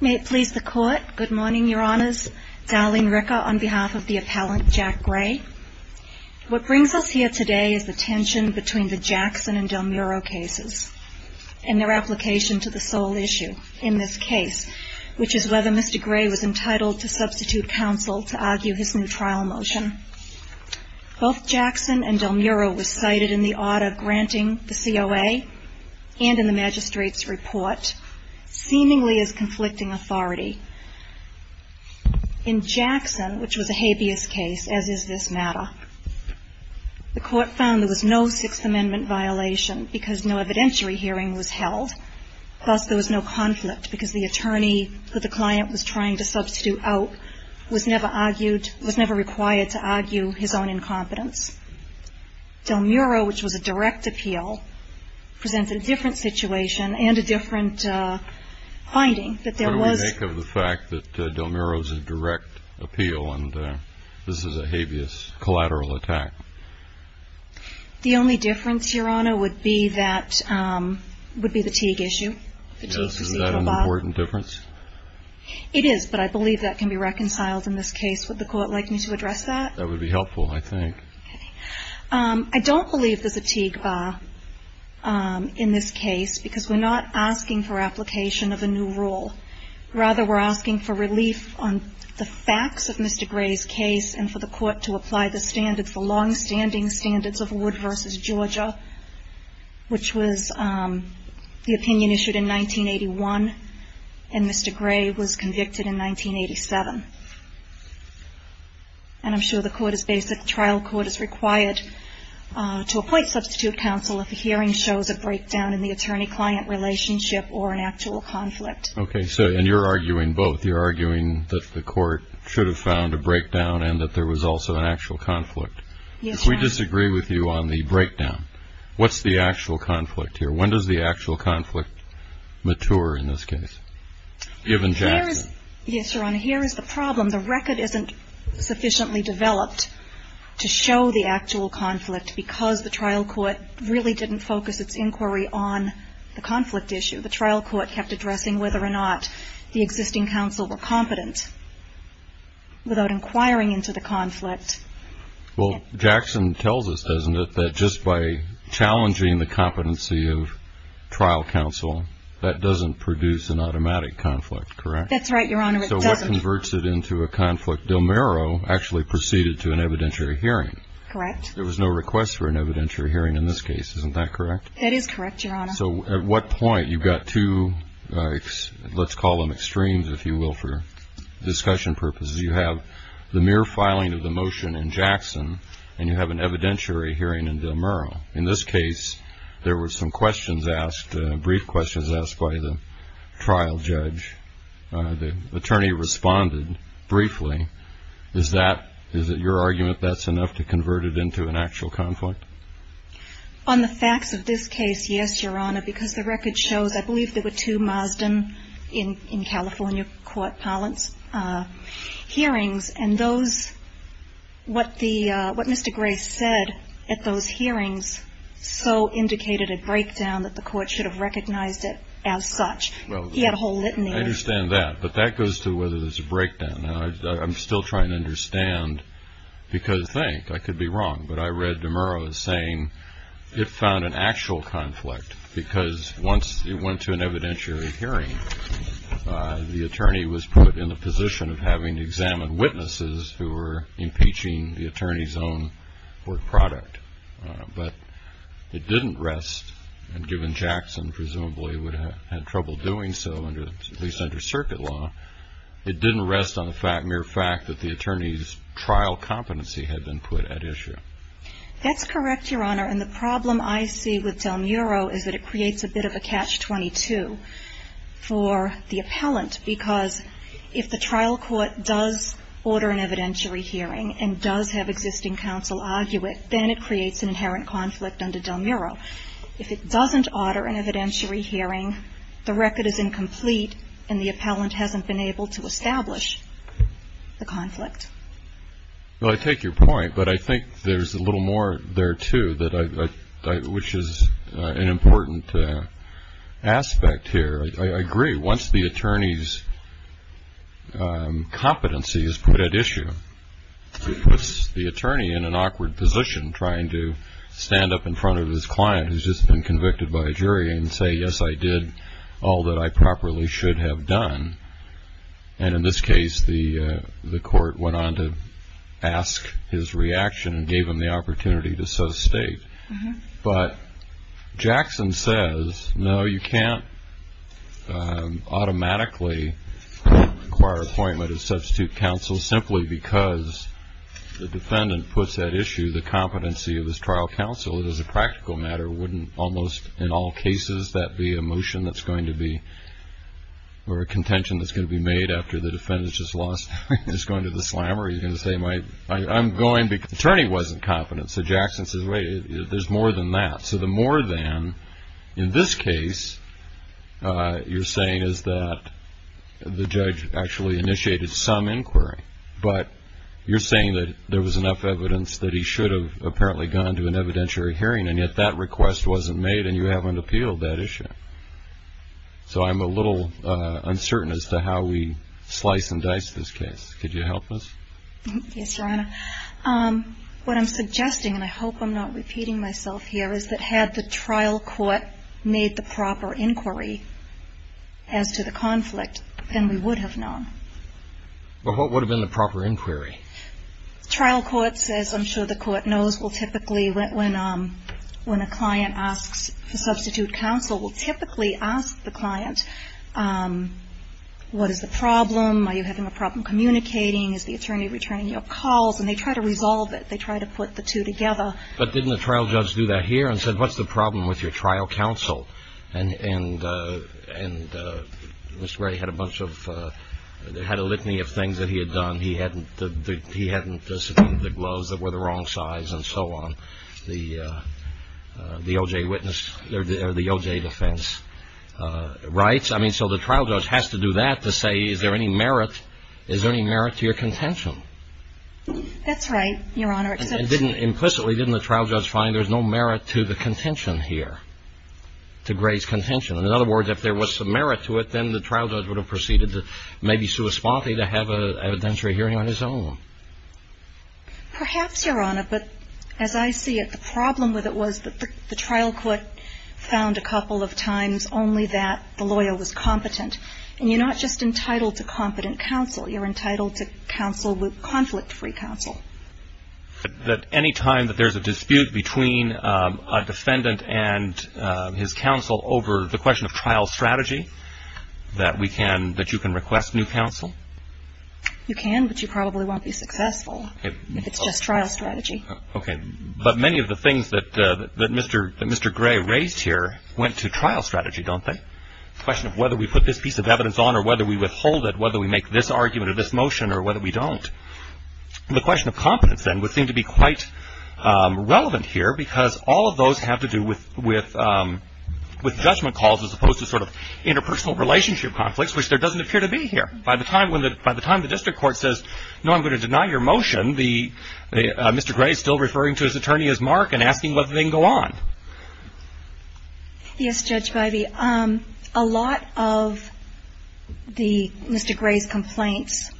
May it please the Court. Good morning, Your Honors. Darlene Ricker on behalf of the Appellant Jack Gray. What brings us here today is the tension between the Jackson and Del Muro cases and their application to the sole issue in this case, which is whether Mr. Gray was entitled to substitute counsel to argue his new trial motion. Both Jackson and Del Muro were cited in the order granting the COA and in the magistrate's report seemingly as conflicting authority. In Jackson, which was a habeas case, as is this matter, the Court found there was no Sixth Amendment violation because no evidentiary hearing was held. Plus, there was no conflict because the attorney that the client was trying to substitute out was never argued, was never required to argue his own incompetence. Del Muro, which was a direct appeal, presented a different situation and a different finding. What do we make of the fact that Del Muro's a direct appeal and this is a habeas collateral attack? The only difference, Your Honor, would be that, would be the Teague issue. Is that an important difference? It is, but I believe that can be reconciled in this case. Would the Court like me to address that? That would be helpful, I think. I don't believe there's a Teague bar in this case because we're not asking for application of a new rule. Rather, we're asking for relief on the facts of Mr. Gray's case and for the Court to apply the standards, the longstanding standards of Wood v. Georgia, which was the opinion issued in 1981, and Mr. Gray was convicted in 1987. And I'm sure the Court is based that the trial court is required to appoint substitute counsel if a hearing shows a breakdown in the attorney-client relationship or an actual conflict. Okay. And you're arguing both. You're arguing that the Court should have found a breakdown and that there was also an actual conflict. Yes, Your Honor. We disagree with you on the breakdown. What's the actual conflict here? When does the actual conflict mature in this case, given Jackson? Yes, Your Honor. Here is the problem. The record isn't sufficiently developed to show the actual conflict because the trial court really didn't focus its inquiry on the conflict issue. The trial court kept addressing whether or not the existing counsel were competent without inquiring into the conflict. Well, Jackson tells us, doesn't it, that just by challenging the competency of trial counsel, that doesn't produce an automatic conflict, correct? That's right, Your Honor. It doesn't. So what converts it into a conflict? Delmero actually proceeded to an evidentiary hearing. Correct. There was no request for an evidentiary hearing in this case. Isn't that correct? That is correct, Your Honor. So at what point, you've got two, let's call them extremes, if you will, for discussion purposes. You have the mere filing of the motion in Jackson and you have an evidentiary hearing in Delmero. In this case, there were some questions asked, brief questions asked by the trial judge. The attorney responded briefly. Is it your argument that's enough to convert it into an actual conflict? On the facts of this case, yes, Your Honor, because the record shows I believe there were two Marsden in California court parlance hearings. And those, what Mr. Gray said at those hearings so indicated a breakdown that the court should have recognized it as such. He had a whole litany. I understand that. Now, I'm still trying to understand because, thank, I could be wrong, but I read Delmero as saying it found an actual conflict because once it went to an evidentiary hearing, the attorney was put in the position of having to examine witnesses who were impeaching the attorney's own court product. But it didn't rest, and given Jackson presumably would have had trouble doing so, at least under circuit law, it didn't rest on the mere fact that the attorney's trial competency had been put at issue. That's correct, Your Honor, and the problem I see with Delmero is that it creates a bit of a catch-22 for the appellant because if the trial court does order an evidentiary hearing and does have existing counsel argue it, then it creates an inherent conflict under Delmero. If it doesn't order an evidentiary hearing, the record is incomplete and the appellant hasn't been able to establish the conflict. Well, I take your point, but I think there's a little more there, too, which is an important aspect here. I agree. Once the attorney's competency is put at issue, it puts the attorney in an awkward position trying to stand up in front of his client who's just been convicted by a jury and say, yes, I did all that I properly should have done. And in this case, the court went on to ask his reaction and gave him the opportunity to so state. But Jackson says, no, you can't automatically acquire appointment of substitute counsel simply because the defendant puts at issue the competency of his trial counsel. It is a practical matter. It wouldn't almost in all cases that be a motion that's going to be or a contention that's going to be made after the defendant's just lost. He's going to the slammer. He's going to say, I'm going because the attorney wasn't confident. So Jackson says, wait, there's more than that. So the more than in this case you're saying is that the judge actually initiated some inquiry, but you're saying that there was enough evidence that he should have apparently gone to an evidentiary hearing, and yet that request wasn't made and you haven't appealed that issue. So I'm a little uncertain as to how we slice and dice this case. Could you help us? Yes, Your Honor. What I'm suggesting, and I hope I'm not repeating myself here, is that had the trial court made the proper inquiry as to the conflict, then we would have known. Well, what would have been the proper inquiry? Trial court says, I'm sure the court knows, will typically when a client asks for substitute counsel will typically ask the client, what is the problem? Are you having a problem communicating? Is the attorney returning your calls? And they try to resolve it. They try to put the two together. But didn't the trial judge do that here and said, what's the problem with your trial counsel? And Mr. Ray had a bunch of ‑‑ had a litany of things that he had done. He hadn't subpoenaed the gloves that were the wrong size and so on. The O.J. witness or the O.J. defense rights. I mean, so the trial judge has to do that to say, is there any merit? Is there any merit to your contention? That's right, Your Honor. Implicitly, didn't the trial judge find there's no merit to the contention here, to Gray's contention? In other words, if there was some merit to it, then the trial judge would have proceeded to maybe sui sponte to have an evidentiary hearing on his own. Perhaps, Your Honor, but as I see it, the problem with it was that the trial court found a couple of times only that the lawyer was competent. And you're not just entitled to competent counsel. You're entitled to counsel with conflict‑free counsel. But any time that there's a dispute between a defendant and his counsel over the question of trial strategy, that we can ‑‑ that you can request new counsel? You can, but you probably won't be successful if it's just trial strategy. Okay. But many of the things that Mr. Gray raised here went to trial strategy, don't they? The question of whether we put this piece of evidence on or whether we withhold it, whether we make this argument or this motion or whether we don't. The question of competence, then, would seem to be quite relevant here because all of those have to do with judgment calls as opposed to sort of interpersonal relationship conflicts, which there doesn't appear to be here. By the time the district court says, no, I'm going to deny your motion, Mr. Gray is still referring to his attorney as Mark and asking whether they can go on. Yes, Judge Bybee. A lot of the ‑‑ Mr. Gray's complaints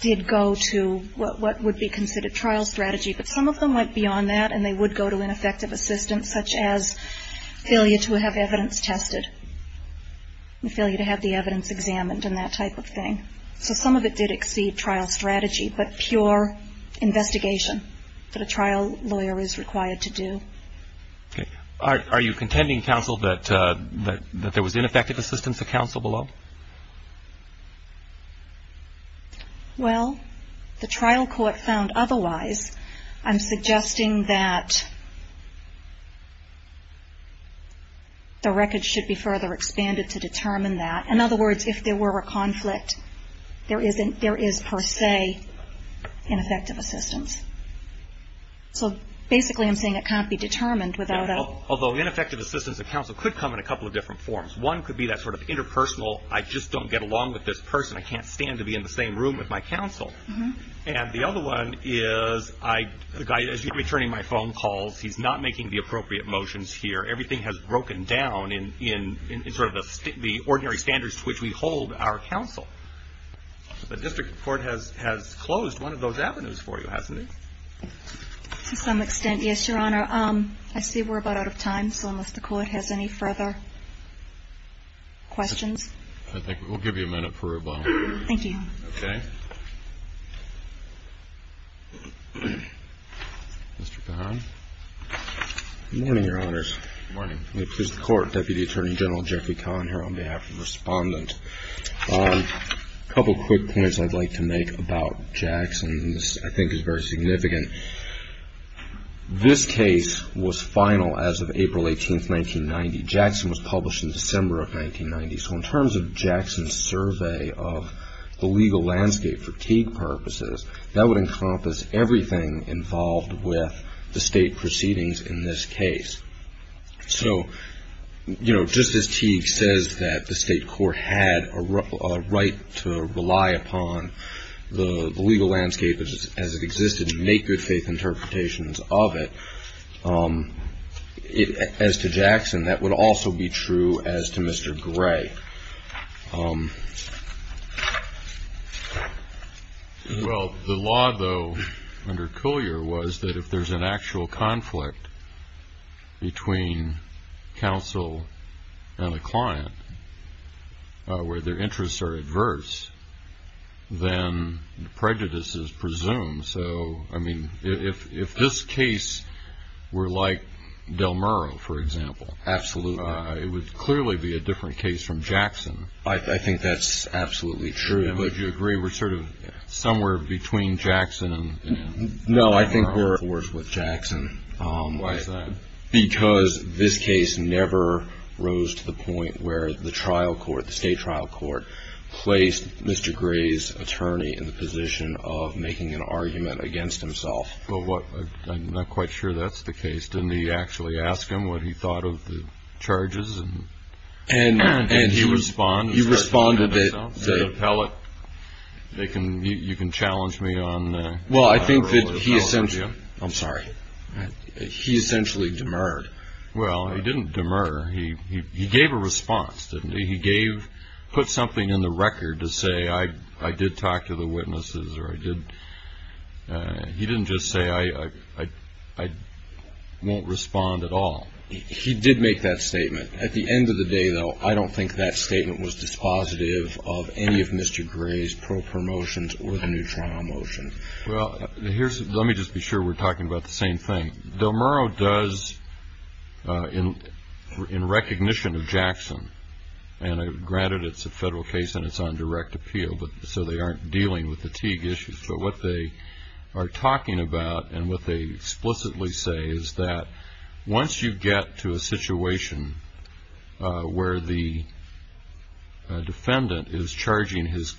did go to what would be considered trial strategy, but some of them went beyond that and they would go to ineffective assistance, such as failure to have evidence tested and failure to have the evidence examined and that type of thing. So some of it did exceed trial strategy, but pure investigation that a trial lawyer is required to do. Okay. Are you contending, counsel, that there was ineffective assistance at counsel below? Well, the trial court found otherwise. I'm suggesting that the record should be further expanded to determine that. In other words, if there were a conflict, there is per se ineffective assistance. So basically I'm saying it can't be determined without a ‑‑ Although ineffective assistance at counsel could come in a couple of different forms. One could be that sort of interpersonal, I just don't get along with this person. I can't stand to be in the same room with my counsel. And the other one is the guy is returning my phone calls. He's not making the appropriate motions here. And so I think that there is an effect on what happens at counsel in that there is a period of time in which everything has broken down in sort of the ordinary standards to which we hold our counsel. But District Court has closed one of those avenues for you, hasn't it? To some extent, yes, Your Honor. I see we're about out of time, so unless the Court has any further questions. I think we'll give you a minute for rebuttal. Thank you. Okay. Mr. Kahn. Good morning, Your Honors. Good morning. Let me please the Court. Deputy Attorney General Jeffrey Kahn here on behalf of the Respondent. A couple of quick points I'd like to make about Jackson. This, I think, is very significant. This case was final as of April 18, 1990. Jackson was published in December of 1990. So in terms of Jackson's survey of the legal landscape for Teague purposes, that would encompass everything involved with the state proceedings in this case. So, you know, just as Teague says that the state court had a right to rely upon the legal landscape as it existed and make good faith interpretations of it, as to Jackson, that would also be true as to Mr. Gray. Well, the law, though, under Coulier was that if there's an actual conflict between counsel and a client where their interests are adverse, then prejudice is presumed. So, I mean, if this case were like Del Muro, for example, it would clearly be a different case from Jackson. I think that's absolutely true. Would you agree we're sort of somewhere between Jackson and Del Muro? No, I think we're worse with Jackson. Why is that? Because this case never rose to the point where the trial court, the state trial court, placed Mr. Gray's attorney in the position of making an argument against himself. Well, I'm not quite sure that's the case. Didn't he actually ask him what he thought of the charges? And did he respond? He responded that... Did he tell it? You can challenge me on... Well, I think that he essentially... I'm sorry. He essentially demurred. Well, he didn't demur. He gave a response, didn't he? He put something in the record to say, I did talk to the witnesses, or I did... He didn't just say, I won't respond at all. He did make that statement. At the end of the day, though, I don't think that statement was dispositive of any of Mr. Gray's pro promotions or the new trial motion. Well, let me just be sure we're talking about the same thing. Del Murro does, in recognition of Jackson, and granted it's a federal case and it's on direct appeal, so they aren't dealing with the Teague issues, but what they are talking about and what they explicitly say is that once you get to a situation where the defendant is charging his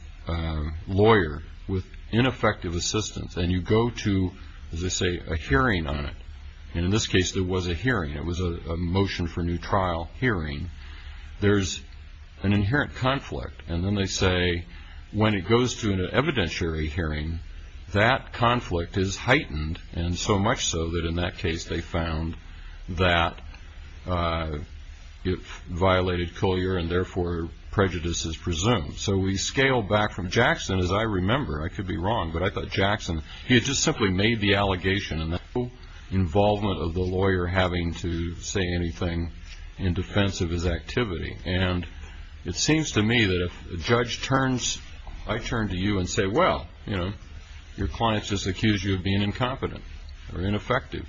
lawyer with ineffective assistance and you go to, as they say, a hearing on it, and in this case there was a hearing, it was a motion for new trial hearing, there's an inherent conflict. And then they say when it goes to an evidentiary hearing, that conflict is heightened, and so much so that in that case they found that it violated Coulier and therefore prejudice is presumed. So we scale back from Jackson, as I remember, I could be wrong, but I thought Jackson, he had just simply made the allegation and no involvement of the lawyer having to say anything in defense of his activity. And it seems to me that if a judge turns, I turn to you and say, well, you know, your client just accused you of being incompetent or ineffective.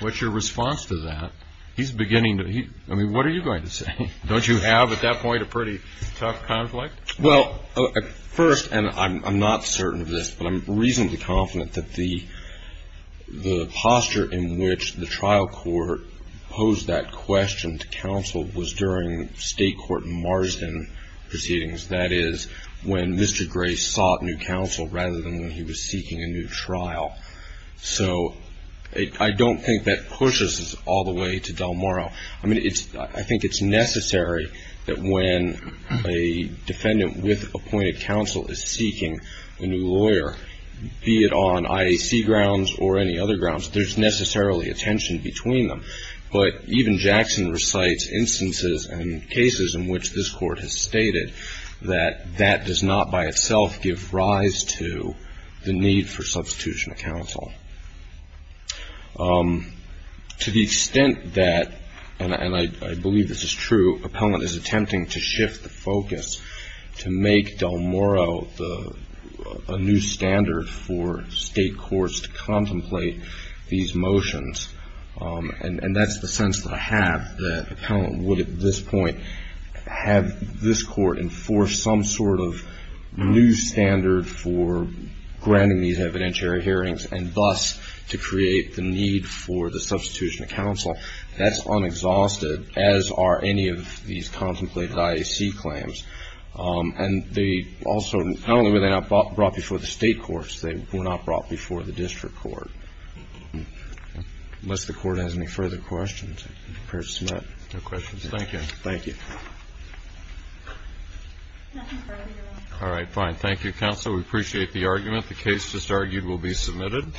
What's your response to that? He's beginning to, I mean, what are you going to say? Don't you have at that point a pretty tough conflict? Well, first, and I'm not certain of this, but I'm reasonably confident that the posture in which the trial court posed that question to counsel was during state court in Marsden proceedings. That is when Mr. Grace sought new counsel rather than when he was seeking a new trial. So I don't think that pushes us all the way to Del Moro. I mean, I think it's necessary that when a defendant with appointed counsel is seeking a new lawyer, be it on IAC grounds or any other grounds, there's necessarily a tension between them. But even Jackson recites instances and cases in which this court has stated that that does not by itself give rise to the need for substitution of counsel. To the extent that, and I believe this is true, appellant is attempting to shift the focus to make Del Moro a new standard for state courts to contemplate these motions. And that's the sense that I have, that appellant would at this point have this court enforce some sort of new standard for granting these evidentiary hearings and thus to create the need for the substitution of counsel. That's unexhausted, as are any of these contemplated IAC claims. And they also, not only were they not brought before the state courts, they were not brought before the district court. Unless the court has any further questions. No questions. Thank you. Thank you. All right, fine. Thank you, counsel. We appreciate the argument. The case just argued will be submitted.